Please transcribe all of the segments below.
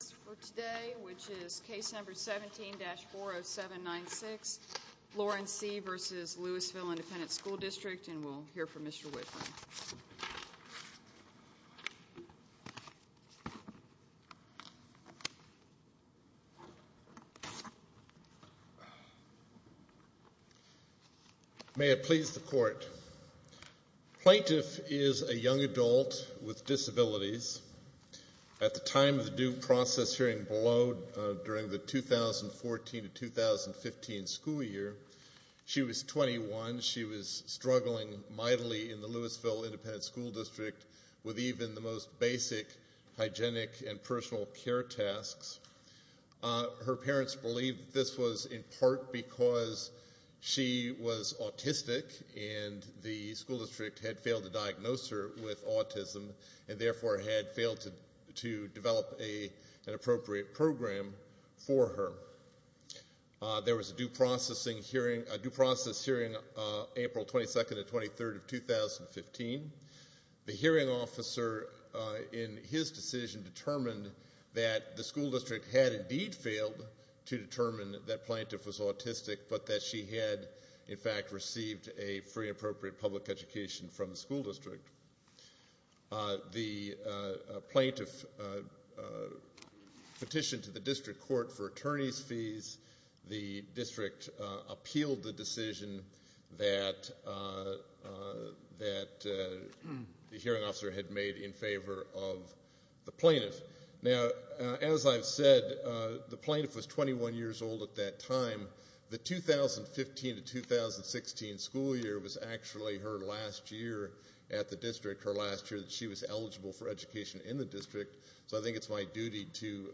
17-40796, Lawrence C. v. Lewisville Independent School District, and we'll hear from Mr. Whitman. May it please the Court. Plaintiff is a young adult with disabilities. At the time of the due process hearing below, during the 2014-2015 school year, she was 21. She was struggling mightily in the Lewisville Independent School District with even the most basic hygienic and personal care tasks. Her parents believed this was in part because she was autistic and the school district had failed to diagnose her with autism and therefore had failed to develop an appropriate program for her. There was a due process hearing April 22-23, 2015. The hearing officer in his decision determined that the school district had indeed failed to determine that plaintiff was autistic but that she had in fact received a free appropriate public education from the school district. The plaintiff petitioned to the district court for attorney's fees. The district appealed the decision that the hearing officer had made in favor of the plaintiff. Now, as I've said, the plaintiff was 21 years old at that time. The 2015-2016 school year was actually her last year at the district, her last year that she was eligible for education in the district. So I think it's my duty to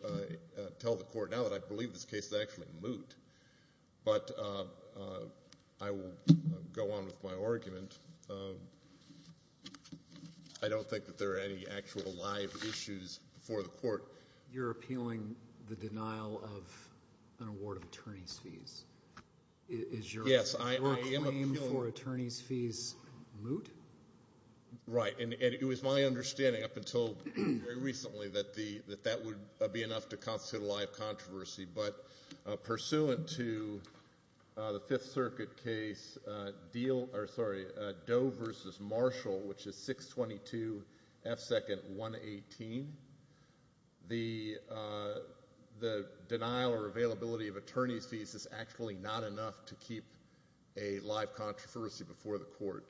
tell the court now that I believe this case is actually moot. But I will go on with my argument. I don't think that there are any actual live issues before the court. You're appealing the denial of an award of attorney's fees. Is your claim for attorney's fees moot? Right, and it was my understanding up until very recently that that would be enough to constitute a live controversy. But pursuant to the Fifth Circuit case Doe v. Marshall, which is 622 F. 2nd 118, the denial or availability of attorney's fees is actually not enough to keep a live controversy before the court.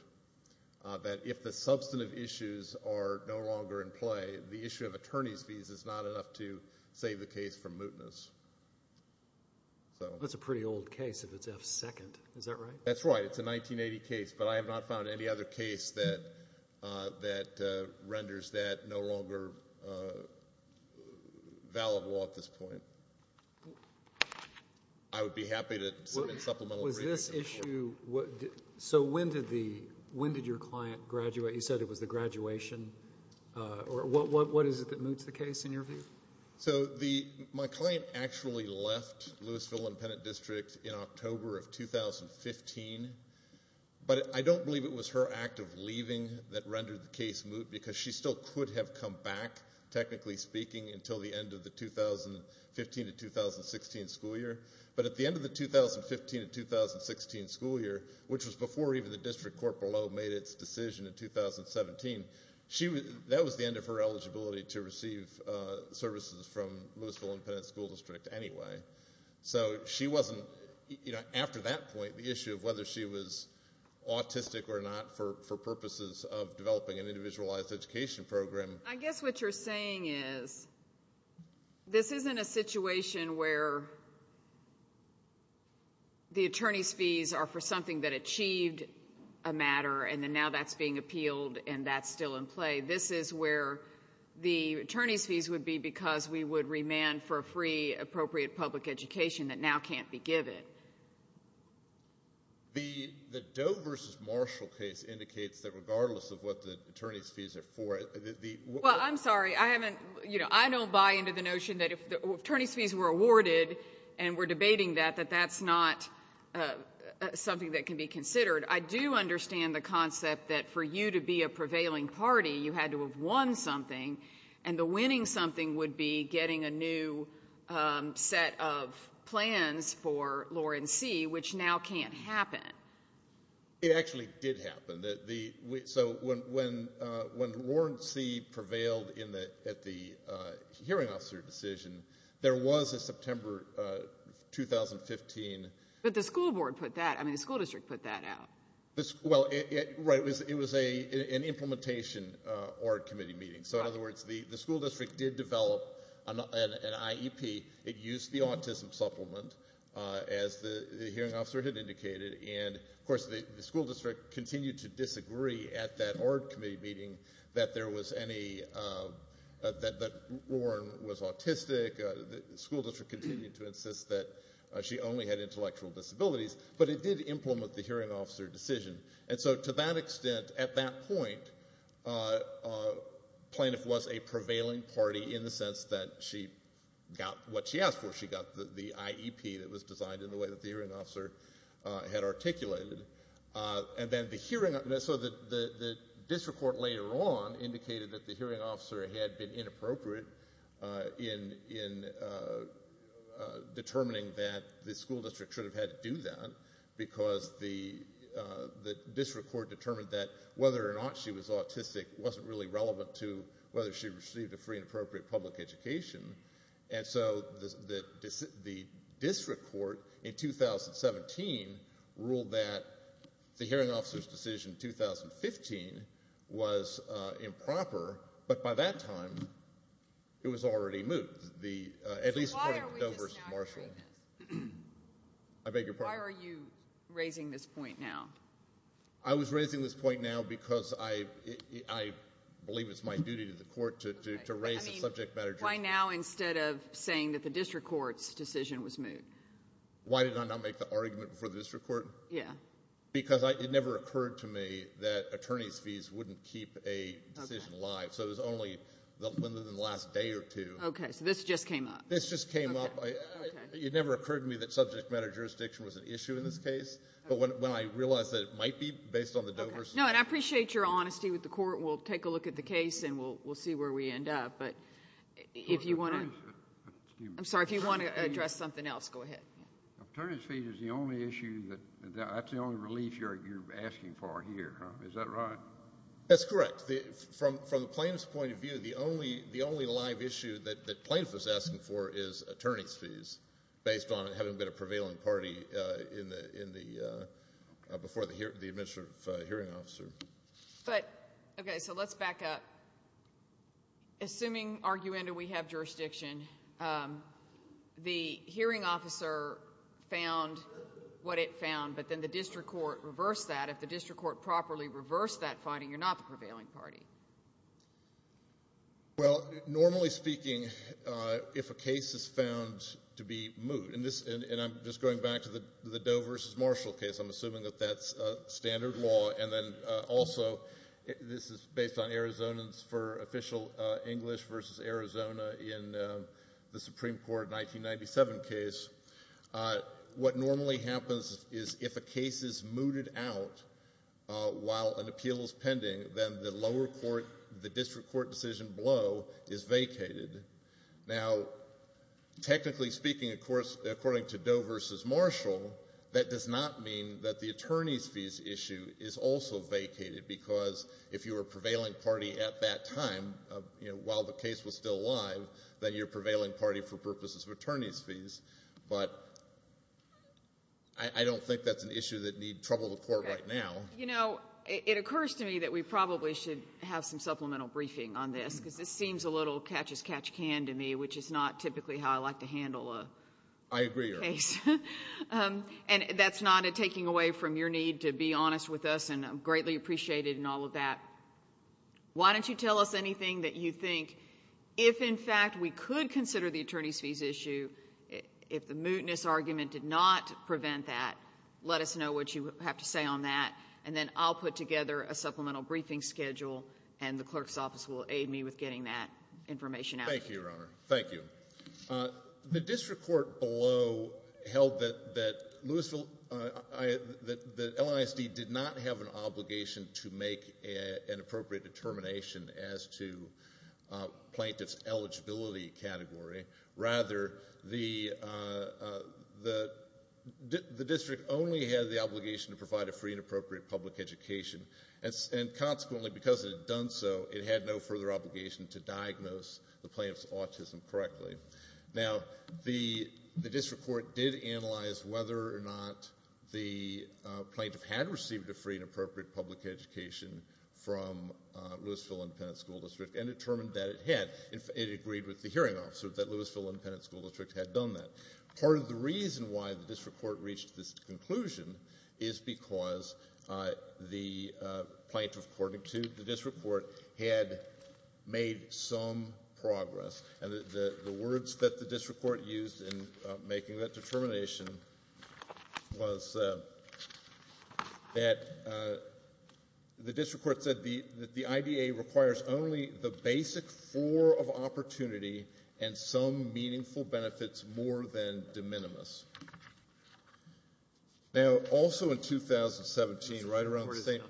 That if the substantive issues are no longer in play, the issue of attorney's fees is not enough to save the case from mootness. That's a pretty old case if it's F. 2nd, is that right? That's right. It's a 1980 case, but I have not found any other case that renders that no longer valuable at this point. I would be happy to submit supplemental briefings. So when did your client graduate? You said it was the graduation. What is it that moots the case in your view? So my client actually left Lewisville Independent District in October of 2015. But I don't believe it was her act of leaving that rendered the case moot, because she still could have come back, technically speaking, until the end of the 2015 to 2016 school year. But at the end of the 2015 to 2016 school year, which was before even the district court below made its decision in 2017, that was the end of her eligibility to receive services from Lewisville Independent School District anyway. So she wasn't, after that point, the issue of whether she was autistic or not for purposes of developing an individualized education program. I guess what you're saying is this isn't a situation where the attorney's fees are for something that achieved a matter, and then now that's being appealed and that's still in play. This is where the attorney's fees would be because we would remand for a free, appropriate public education that now can't be given. The Doe v. Marshall case indicates that regardless of what the attorney's fees are for, the – Well, I'm sorry. I haven't – you know, I don't buy into the notion that if the attorney's fees were awarded, and we're debating that, that that's not something that can be considered. I do understand the concept that for you to be a prevailing party, you had to have won something, and the winning something would be getting a new set of plans for Lauren C., which now can't happen. It actually did happen. So when Lauren C. prevailed at the hearing officer decision, there was a September 2015 – But the school board put that – I mean the school district put that out. Well, right. It was an implementation org committee meeting. So in other words, the school district did develop an IEP. It used the autism supplement, as the hearing officer had indicated, and of course the school district continued to disagree at that org committee meeting that there was any – that Lauren was autistic. The school district continued to insist that she only had intellectual disabilities, but it did implement the hearing officer decision. And so to that extent, at that point, plaintiff was a prevailing party in the sense that she got what she asked for. She got the IEP that was designed in the way that the hearing officer had articulated. And then the hearing – so the district court later on indicated that the hearing officer had been inappropriate in determining that the school district should have had to do that because the district court determined that whether or not she was autistic wasn't really relevant to whether she received a free and appropriate public education. And so the district court in 2017 ruled that the hearing officer's decision in 2015 was improper, but by that time it was already moved, at least according to Dover's Marshall. So why are we just now hearing this? I beg your pardon? Why are you raising this point now? I was raising this point now because I believe it's my duty to the court to raise the subject matter. Why now instead of saying that the district court's decision was moved? Why did I not make the argument before the district court? Yeah. Because it never occurred to me that attorney's fees wouldn't keep a decision alive, so it was only within the last day or two. Okay, so this just came up. This just came up. Okay. It never occurred to me that subject matter jurisdiction was an issue in this case, but when I realized that it might be based on the Dover's – No, and I appreciate your honesty with the court. We'll take a look at the case, and we'll see where we end up. But if you want to – Excuse me. I'm sorry. If you want to address something else, go ahead. Attorney's fees is the only issue that – that's the only relief you're asking for here, is that right? That's correct. From the plaintiff's point of view, the only live issue that plaintiff is asking for is attorney's fees based on it having been a prevailing party before the administrative hearing officer. But – okay, so let's back up. Assuming, arguendo, we have jurisdiction, the hearing officer found what it found, but then the district court reversed that. If the district court properly reversed that finding, you're not the prevailing party. Well, normally speaking, if a case is found to be moot, and I'm just going back to the Dover v. Marshall case, I'm assuming that that's standard law, and then also this is based on Arizonans for Official English v. Arizona in the Supreme Court 1997 case. What normally happens is if a case is mooted out while an appeal is pending, then the lower court, the district court decision below is vacated. Now, technically speaking, of course, according to Dover v. Marshall, that does not mean that the attorney's fees issue is also vacated because if you were a prevailing party at that time while the case was still alive, then you're a prevailing party for purposes of attorney's fees. But I don't think that's an issue that need trouble to court right now. You know, it occurs to me that we probably should have some supplemental briefing on this because this seems a little catch-as-catch-can to me, which is not typically how I like to handle a case. And that's not a taking away from your need to be honest with us, and I'm greatly appreciated in all of that. Why don't you tell us anything that you think? If, in fact, we could consider the attorney's fees issue, if the mootness argument did not prevent that, let us know what you have to say on that, and then I'll put together a supplemental briefing schedule, and the clerk's office will aid me with getting that information out. Thank you, Your Honor. Thank you. The district court below held that LISD did not have an obligation to make an appropriate determination as to plaintiff's eligibility category. Rather, the district only had the obligation to provide a free and appropriate public education, and consequently, because it had done so, it had no further obligation to diagnose the plaintiff's autism correctly. Now, the district court did analyze whether or not the plaintiff had received a free and appropriate public education from Lewisville Independent School District and determined that it had. It agreed with the hearing officer that Lewisville Independent School District had done that. Part of the reason why the district court reached this conclusion is because the plaintiff, according to the district court, had made some progress. And the words that the district court used in making that determination was that the district court said that the IDA requires only the basic four of opportunity and some meaningful benefits more than de minimis. Now, also in 2017, right around the same—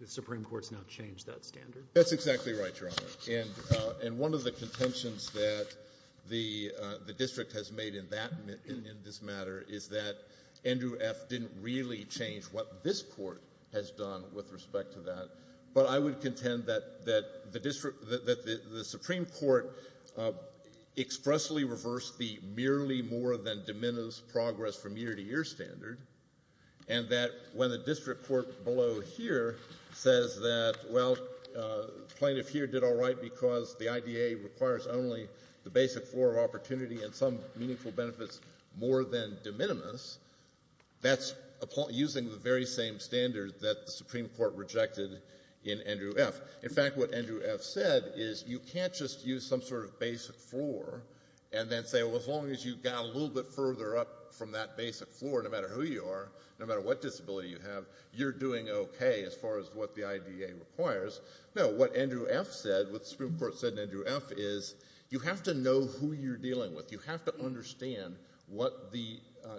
The Supreme Court has now changed that standard? That's exactly right, Your Honor. And one of the contentions that the district has made in this matter is that Andrew F. didn't really change what this court has done with respect to that. But I would contend that the Supreme Court expressly reversed the merely more than de minimis progress from year to year standard and that when the district court below here says that, well, plaintiff here did all right because the IDA requires only the basic four of opportunity and some meaningful benefits more than de minimis, that's using the very same standard that the Supreme Court rejected in Andrew F. In fact, what Andrew F. said is you can't just use some sort of basic four and then say, well, as long as you got a little bit further up from that basic four, no matter who you are, no matter what disability you have, you're doing okay as far as what the IDA requires. No, what Andrew F. said, what the Supreme Court said to Andrew F. is you have to know who you're dealing with. You have to understand what the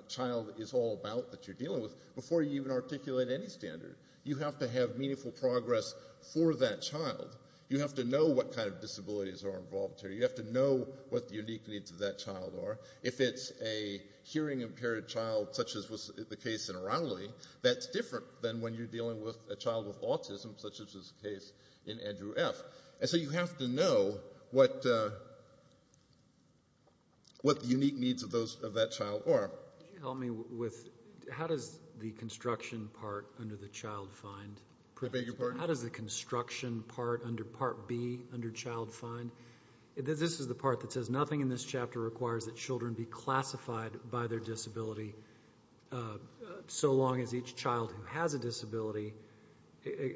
child is all about that you're dealing with before you even articulate any standard. You have to have meaningful progress for that child. You have to know what kind of disabilities are involved here. You have to know what the unique needs of that child are. If it's a hearing-impaired child such as was the case in Raleigh, that's different than when you're dealing with a child with autism such as was the case in Andrew F. So you have to know what the unique needs of that child are. Could you help me with how does the construction part under the child find? I beg your pardon? How does the construction part under Part B under child find? This is the part that says nothing in this chapter requires that children be classified by their disability so long as each child who has a disability, et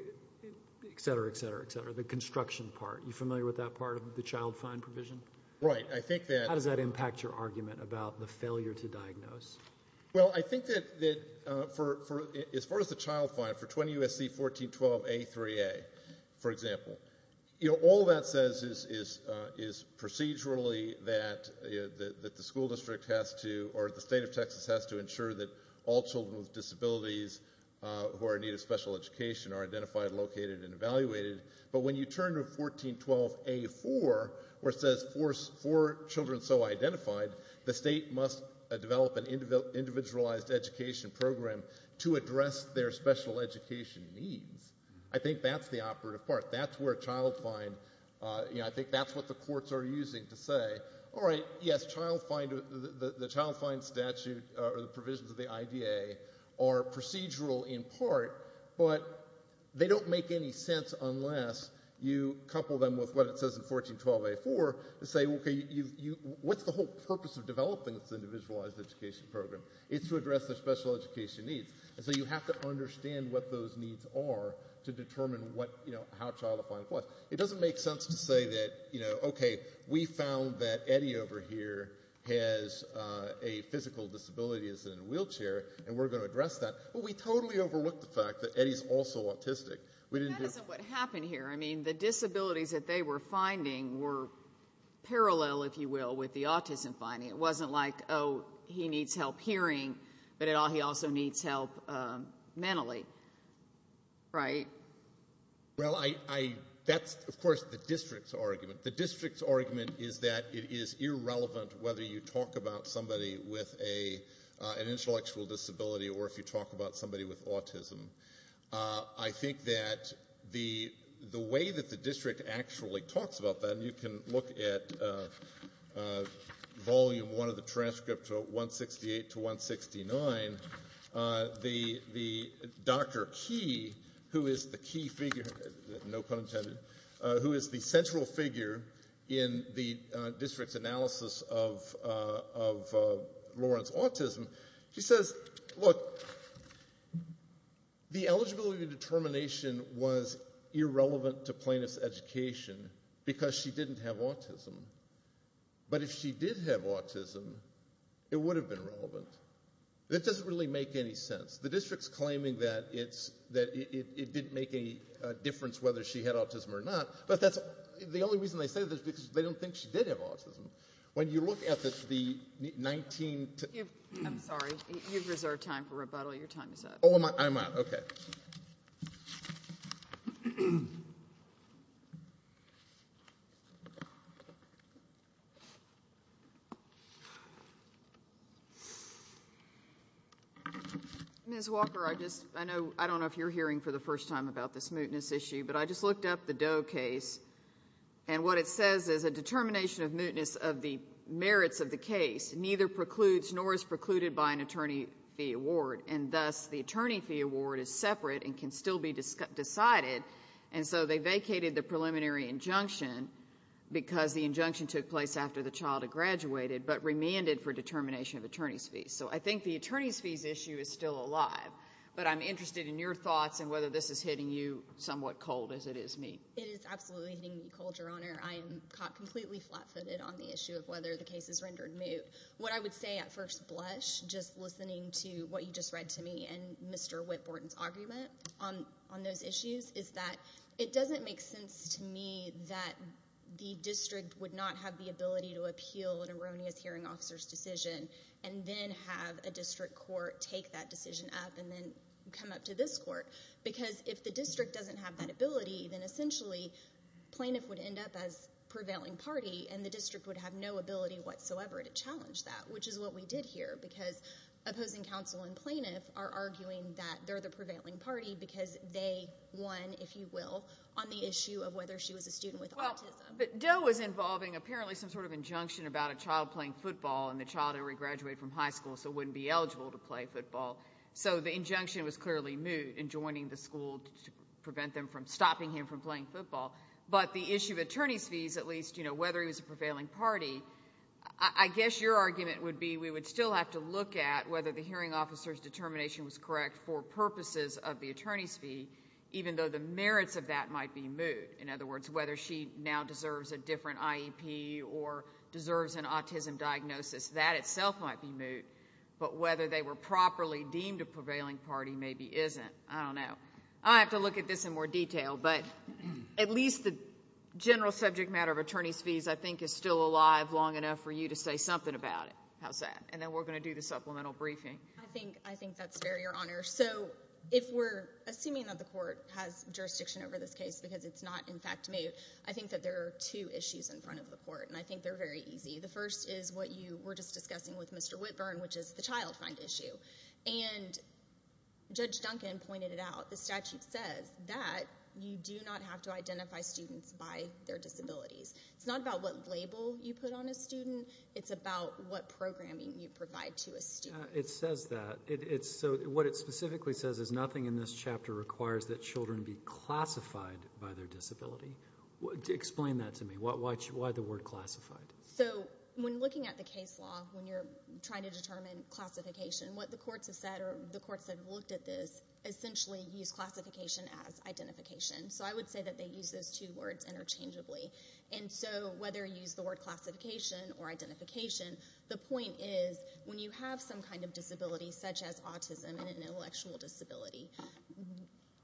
cetera, et cetera, et cetera. The construction part, are you familiar with that part of the child find provision? Right. How does that impact your argument about the failure to diagnose? Well, I think that as far as the child find, for 20 U.S.C. 1412A3A, for example, all that says is procedurally that the school district has to or the state of Texas has to ensure that all children with disabilities who are in need of special education are identified, located, and evaluated. But when you turn to 1412A4 where it says four children so identified, the state must develop an individualized education program to address their special education needs. I think that's the operative part. That's where child find, you know, I think that's what the courts are using to say, all right, yes, the child find statute or the provisions of the IDA are procedural in part, but they don't make any sense unless you couple them with what it says in 1412A4 to say, okay, what's the whole purpose of developing this individualized education program? It's to address their special education needs. And so you have to understand what those needs are to determine, you know, how child find applies. It doesn't make sense to say that, you know, okay, we found that Eddie over here has a physical disability, is in a wheelchair, and we're going to address that. Well, we totally overlooked the fact that Eddie's also autistic. That isn't what happened here. I mean, the disabilities that they were finding were parallel, if you will, with the autism finding. It wasn't like, oh, he needs help hearing, but he also needs help mentally, right? Well, that's, of course, the district's argument. The district's argument is that it is irrelevant whether you talk about somebody with an intellectual disability or if you talk about somebody with autism. I think that the way that the district actually talks about that, and you can look at Volume I of the transcript from 168 to 169, the Dr. Key, who is the key figure, no pun intended, who is the central figure in the district's analysis of Lawrence's autism, she says, look, the eligibility determination was irrelevant to plaintiff's education because she didn't have autism. But if she did have autism, it would have been relevant. That doesn't really make any sense. The district's claiming that it didn't make any difference whether she had autism or not, but the only reason they say that is because they don't think she did have autism. When you look at the 19- I'm sorry. You've reserved time for rebuttal. Your time is up. Oh, am I? Okay. Ms. Walker, I don't know if you're hearing for the first time about this mootness issue, but I just looked up the Doe case, and what it says is a determination of mootness of the merits of the case neither precludes nor is precluded by an attorney fee award, and thus the attorney fee award is separate and can still be decided, and so they vacated the preliminary injunction because the injunction took place after the child had graduated but remanded for determination of attorney's fees. So I think the attorney's fees issue is still alive, but I'm interested in your thoughts and whether this is hitting you somewhat cold, as it is me. It is absolutely hitting me cold, Your Honor. I am caught completely flat-footed on the issue of whether the case is rendered moot. What I would say at first blush, just listening to what you just read to me and Mr. Whitborton's argument on those issues, is that it doesn't make sense to me that the district would not have the ability to appeal an erroneous hearing officer's decision and then have a district court take that decision up and then come up to this court because if the district doesn't have that ability, then essentially plaintiff would end up as prevailing party and the district would have no ability whatsoever to challenge that, which is what we did here because opposing counsel and plaintiff are arguing that they're the prevailing party because they won, if you will, on the issue of whether she was a student with autism. But Doe was involving apparently some sort of injunction about a child playing football and the child had already graduated from high school so wouldn't be eligible to play football, so the injunction was clearly moot in joining the school to prevent them from stopping him from playing football. But the issue of attorney's fees, at least, whether he was a prevailing party, I guess your argument would be we would still have to look at whether the hearing officer's determination was correct for purposes of the attorney's fee, even though the merits of that might be moot. In other words, whether she now deserves a different IEP or deserves an autism diagnosis, that itself might be moot, but whether they were properly deemed a prevailing party maybe isn't. I don't know. I'll have to look at this in more detail. But at least the general subject matter of attorney's fees, I think, is still alive long enough for you to say something about it. How's that? And then we're going to do the supplemental briefing. I think that's fair, Your Honor. So if we're assuming that the court has jurisdiction over this case because it's not, in fact, moot, I think that there are two issues in front of the court, and I think they're very easy. The first is what you were just discussing with Mr. Whitburn, which is the child find issue. And Judge Duncan pointed it out. The statute says that you do not have to identify students by their disabilities. It's not about what label you put on a student. It's about what programming you provide to a student. It says that. So what it specifically says is nothing in this chapter requires that children be classified by their disability. Explain that to me. Why the word classified? So when looking at the case law, when you're trying to determine classification, what the courts have said or the courts that have looked at this essentially use classification as identification. So I would say that they use those two words interchangeably. And so whether you use the word classification or identification, the point is when you have some kind of disability, such as autism and an intellectual disability,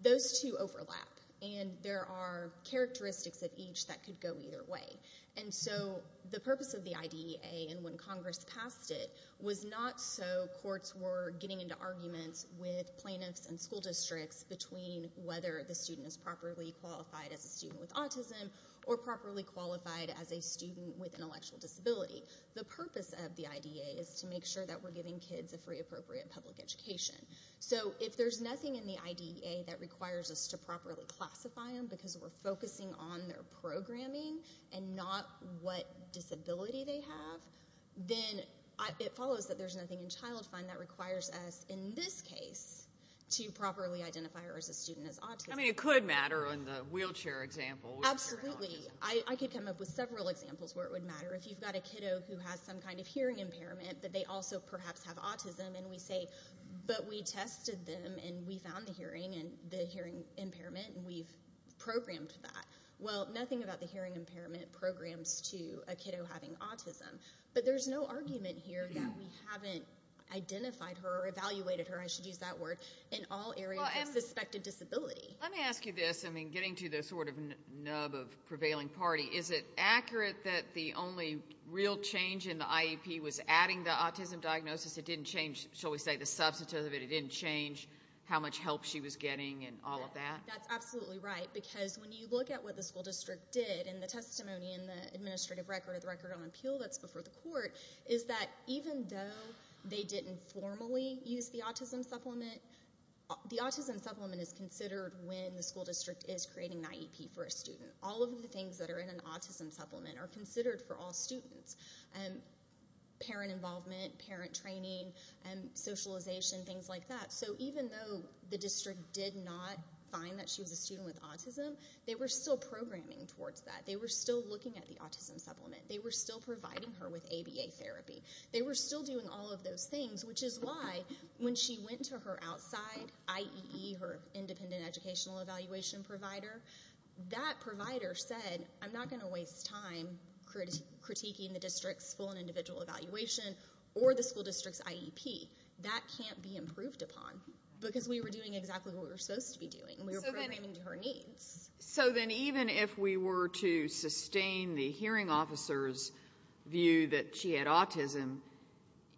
those two overlap, and there are characteristics of each that could go either way. And so the purpose of the IDEA and when Congress passed it was not so courts were getting into arguments with plaintiffs and school districts between whether the student is properly qualified as a student with autism or properly qualified as a student with an intellectual disability. The purpose of the IDEA is to make sure that we're giving kids a free, appropriate public education. So if there's nothing in the IDEA that requires us to properly classify them and not what disability they have, then it follows that there's nothing in Child Fund that requires us in this case to properly identify her as a student with autism. I mean, it could matter in the wheelchair example. Absolutely. I could come up with several examples where it would matter. If you've got a kiddo who has some kind of hearing impairment, that they also perhaps have autism, and we say, but we tested them and we found the hearing impairment and we've programmed that. Well, nothing about the hearing impairment programs to a kiddo having autism. But there's no argument here that we haven't identified her or evaluated her, I should use that word, in all areas of suspected disability. Let me ask you this. I mean, getting to the sort of nub of prevailing party, is it accurate that the only real change in the IEP was adding the autism diagnosis? It didn't change, shall we say, the substance of it? It didn't change how much help she was getting and all of that? That's absolutely right, because when you look at what the school district did in the testimony in the administrative record of the record on appeal that's before the court, is that even though they didn't formally use the autism supplement, the autism supplement is considered when the school district is creating an IEP for a student. All of the things that are in an autism supplement are considered for all students. Parent involvement, parent training, socialization, things like that. So even though the district did not find that she was a student with autism, they were still programming towards that. They were still looking at the autism supplement. They were still providing her with ABA therapy. They were still doing all of those things, which is why when she went to her outside IEE, her independent educational evaluation provider, that provider said, I'm not going to waste time critiquing the district's full and individual evaluation or the school district's IEP. That can't be improved upon, because we were doing exactly what we were supposed to be doing, and we were programming to her needs. So then even if we were to sustain the hearing officer's view that she had autism,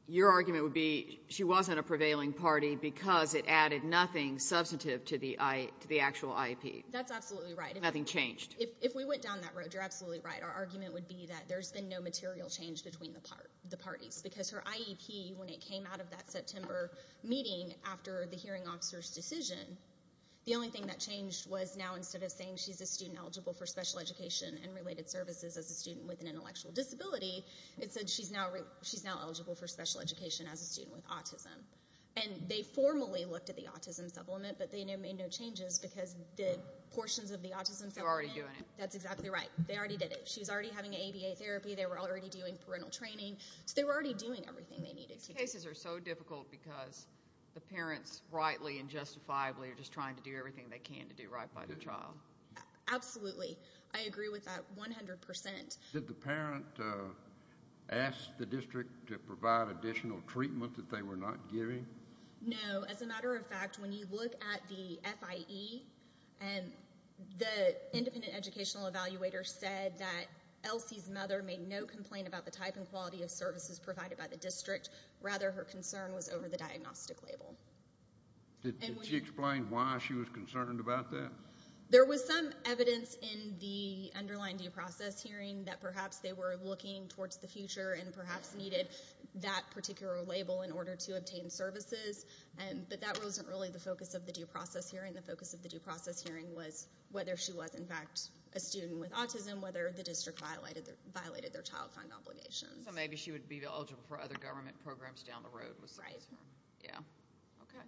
your argument would be she wasn't a prevailing party because it added nothing substantive to the actual IEP. That's absolutely right. Nothing changed. If we went down that road, you're absolutely right. Our argument would be that there's been no material change between the parties, because her IEP, when it came out of that September meeting after the hearing officer's decision, the only thing that changed was now instead of saying she's a student eligible for special education and related services as a student with an intellectual disability, it said she's now eligible for special education as a student with autism. They formally looked at the autism supplement, but they made no changes because the portions of the autism supplement— They're already doing it. That's exactly right. They already did it. She's already having an ABA therapy. They were already doing parental training. So they were already doing everything they needed to do. These cases are so difficult because the parents rightly and justifiably are just trying to do everything they can to do right by the child. Absolutely. I agree with that 100%. Did the parent ask the district to provide additional treatment that they were not giving? No. As a matter of fact, when you look at the FIE, the independent educational evaluator said that Elsie's mother made no complaint about the type and quality of services provided by the district. Rather, her concern was over the diagnostic label. Did she explain why she was concerned about that? There was some evidence in the underlying due process hearing that perhaps they were looking towards the future and perhaps needed that particular label in order to obtain services. But that wasn't really the focus of the due process hearing. The focus of the due process hearing was whether she was, in fact, a student with autism, whether the district violated their child find obligations. So maybe she would be eligible for other government programs down the road. Right. Yeah. Okay.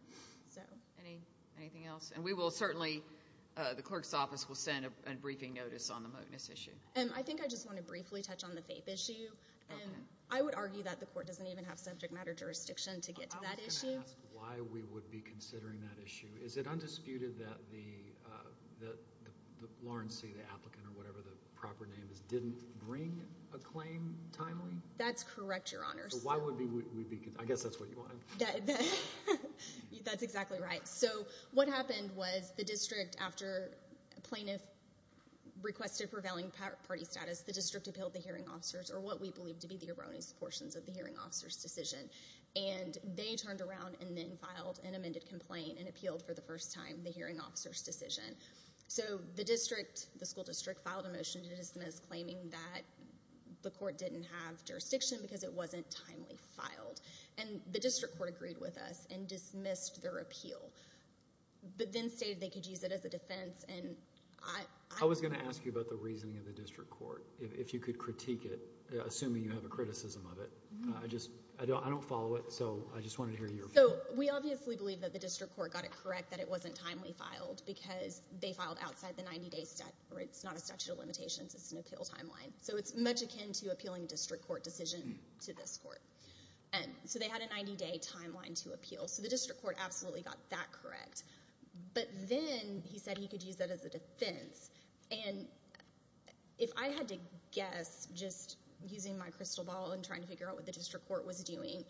Anything else? And we will certainly—the clerk's office will send a briefing notice on the moteness issue. I think I just want to briefly touch on the FAPE issue. Okay. I would argue that the court doesn't even have subject matter jurisdiction to get to that issue. I was going to ask why we would be considering that issue. Is it undisputed that Lawrence C., the applicant or whatever the proper name is, didn't bring a claim timely? That's correct, Your Honor. So why would we be—I guess that's what you want to— That's exactly right. So what happened was the district, after plaintiff requested prevailing party status, the district appealed the hearing officers, or what we believe to be the erroneous portions of the hearing officers' decision. And they turned around and then filed an amended complaint and appealed for the first time the hearing officers' decision. So the district, the school district, filed a motion to dismiss, claiming that the court didn't have jurisdiction because it wasn't timely filed. And the district court agreed with us and dismissed their appeal, but then stated they could use it as a defense. I was going to ask you about the reasoning of the district court, if you could critique it, assuming you have a criticism of it. I don't follow it, so I just wanted to hear your view. So we obviously believe that the district court got it correct that it wasn't timely filed because they filed outside the 90-day statute. It's not a statute of limitations. It's an appeal timeline. So it's much akin to appealing a district court decision to this court. So they had a 90-day timeline to appeal. So the district court absolutely got that correct. But then he said he could use that as a defense. And if I had to guess, just using my crystal ball and trying to figure out what the district court was doing,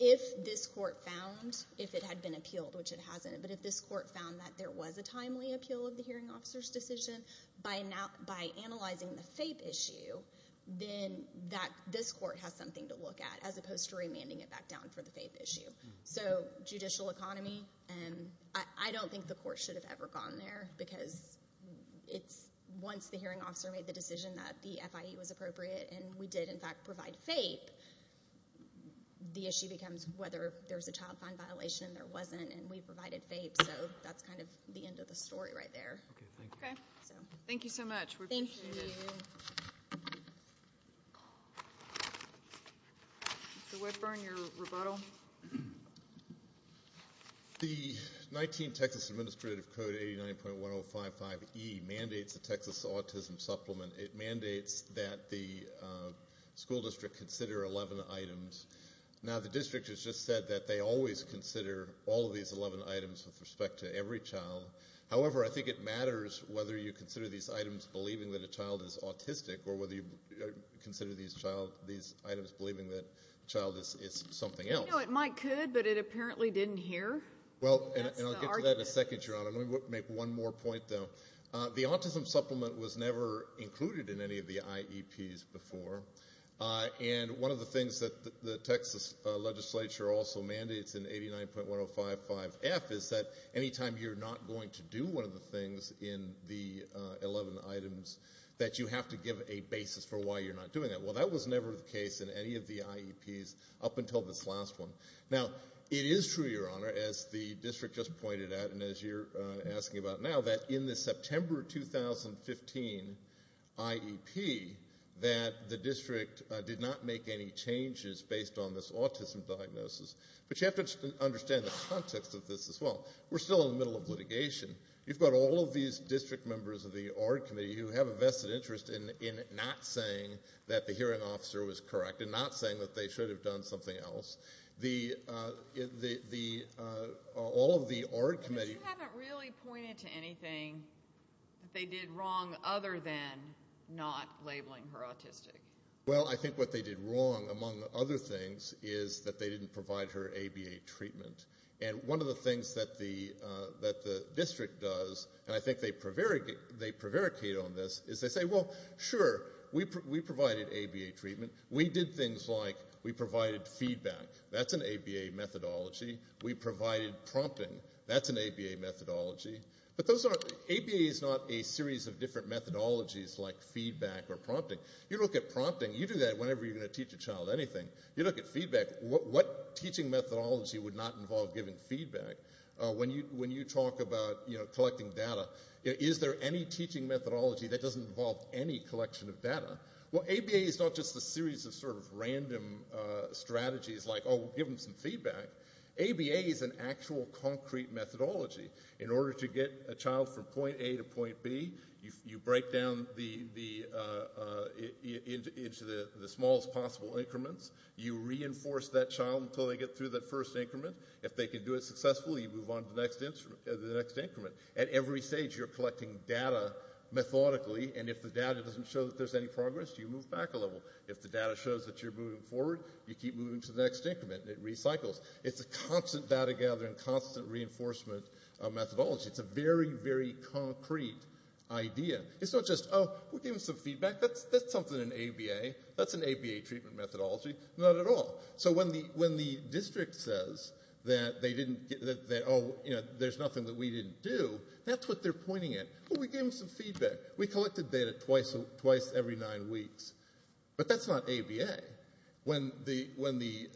if this court found, if it had been appealed, which it hasn't, but if this court found that there was a timely appeal of the hearing officers' decision, by analyzing the FAPE issue, then this court has something to look at as opposed to remanding it back down for the FAPE issue. So judicial economy, I don't think the court should have ever gone there because once the hearing officer made the decision that the FIE was appropriate and we did, in fact, provide FAPE, the issue becomes whether there was a child fine violation and there wasn't. And we provided FAPE, so that's kind of the end of the story right there. Okay, thank you. Thank you so much. We appreciate it. Thank you. Mr. Whitburn, your rebuttal. The 19 Texas Administrative Code 89.1055E mandates the Texas Autism Supplement. It mandates that the school district consider 11 items. Now the district has just said that they always consider all of these 11 items with respect to every child. However, I think it matters whether you consider these items believing that a child is autistic or whether you consider these items believing that a child is something else. You know, it might could, but it apparently didn't hear. And I'll get to that in a second, Your Honor. Let me make one more point, though. The autism supplement was never included in any of the IEPs before. And one of the things that the Texas legislature also mandates in 89.1055F is that any time you're not going to do one of the things in the 11 items that you have to give a basis for why you're not doing that. Well, that was never the case in any of the IEPs up until this last one. Now, it is true, Your Honor, as the district just pointed out and as you're asking about now, that in the September 2015 IEP that the district did not make any changes based on this autism diagnosis. But you have to understand the context of this as well. We're still in the middle of litigation. You've got all of these district members of the ARD Committee who have a vested interest in not saying that the hearing officer was correct and not saying that they should have done something else. All of the ARD Committee... But you haven't really pointed to anything that they did wrong other than not labeling her autistic. Well, I think what they did wrong, among other things, is that they didn't provide her ABA treatment. And one of the things that the district does, and I think they prevaricate on this, is they say, well, sure, we provided ABA treatment. We did things like we provided feedback. That's an ABA methodology. We provided prompting. That's an ABA methodology. But ABA is not a series of different methodologies like feedback or prompting. You look at prompting, you do that whenever you're going to teach a child anything. You look at feedback. What teaching methodology would not involve giving feedback? When you talk about collecting data, is there any teaching methodology that doesn't involve any collection of data? Well, ABA is not just a series of sort of random strategies like, oh, give them some feedback. ABA is an actual concrete methodology. In order to get a child from point A to point B, you break down into the smallest possible increments. You reinforce that child until they get through that first increment. If they can do it successfully, you move on to the next increment. At every stage, you're collecting data methodically, and if the data doesn't show that there's any progress, you move back a level. If the data shows that you're moving forward, you keep moving to the next increment, and it recycles. It's a constant data gathering, constant reinforcement methodology. It's a very, very concrete idea. It's not just, oh, we'll give them some feedback. That's something in ABA. That's an ABA treatment methodology. Not at all. So when the district says that they didn't get that, oh, you know, there's nothing that we didn't do, that's what they're pointing at. Oh, we gave them some feedback. We collected data twice every nine weeks. But that's not ABA. When the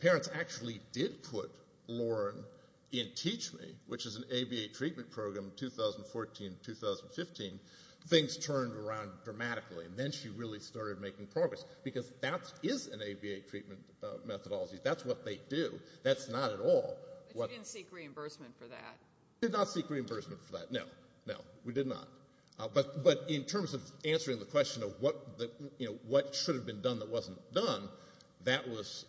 parents actually did put Lauren in TeachMe, which is an ABA treatment program, 2014-2015, things turned around dramatically, and then she really started making progress, because that is an ABA treatment methodology. That's what they do. That's not at all. But you didn't seek reimbursement for that. We did not seek reimbursement for that, no. No, we did not. But in terms of answering the question of what should have been done that wasn't done, that's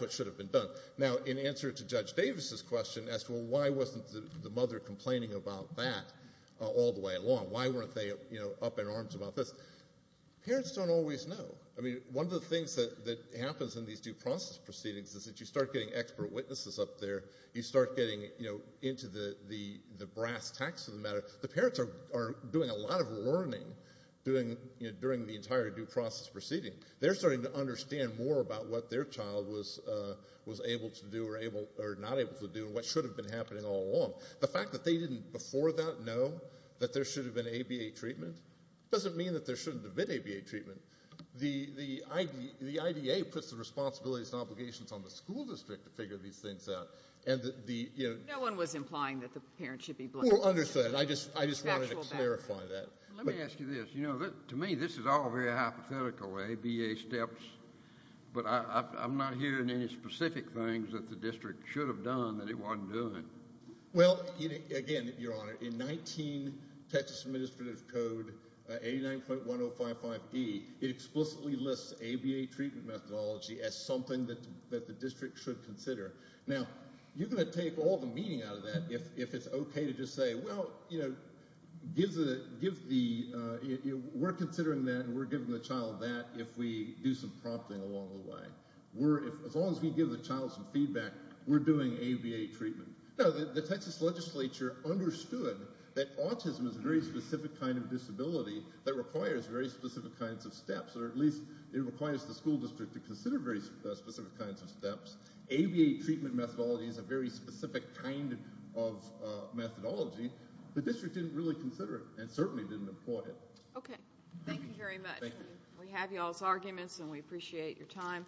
what should have been done. Now, in answer to Judge Davis's question as to, well, why wasn't the mother complaining about that all the way along? Why weren't they up in arms about this? Parents don't always know. I mean, one of the things that happens in these due process proceedings is that you start getting expert witnesses up there. You start getting into the brass tacks of the matter. The parents are doing a lot of learning during the entire due process proceeding. They're starting to understand more about what their child was able to do or not able to do and what should have been happening all along. The fact that they didn't before that know that there should have been ABA treatment doesn't mean that there shouldn't have been ABA treatment. The IDA puts the responsibilities and obligations on the school district to figure these things out. No one was implying that the parents should be blamed. Well, understood. I just wanted to clarify that. Let me ask you this. You know, to me, this is all very hypothetical, ABA steps, but I'm not hearing any specific things that the district should have done that it wasn't doing. Well, again, Your Honor, in 19 Texas Administrative Code 89.1055E, it explicitly lists ABA treatment methodology as something that the district should consider. Now, you're going to take all the meaning out of that if it's okay to just say, well, you know, we're considering that and we're giving the child that if we do some prompting along the way. As long as we give the child some feedback, we're doing ABA treatment. Now, the Texas legislature understood that autism is a very specific kind of disability that requires very specific kinds of steps, or at least it requires the school district ABA treatment methodology is a very specific kind of methodology, and the district didn't really consider it and certainly didn't employ it. Okay. Thank you very much. We have y'all's arguments, and we appreciate your time.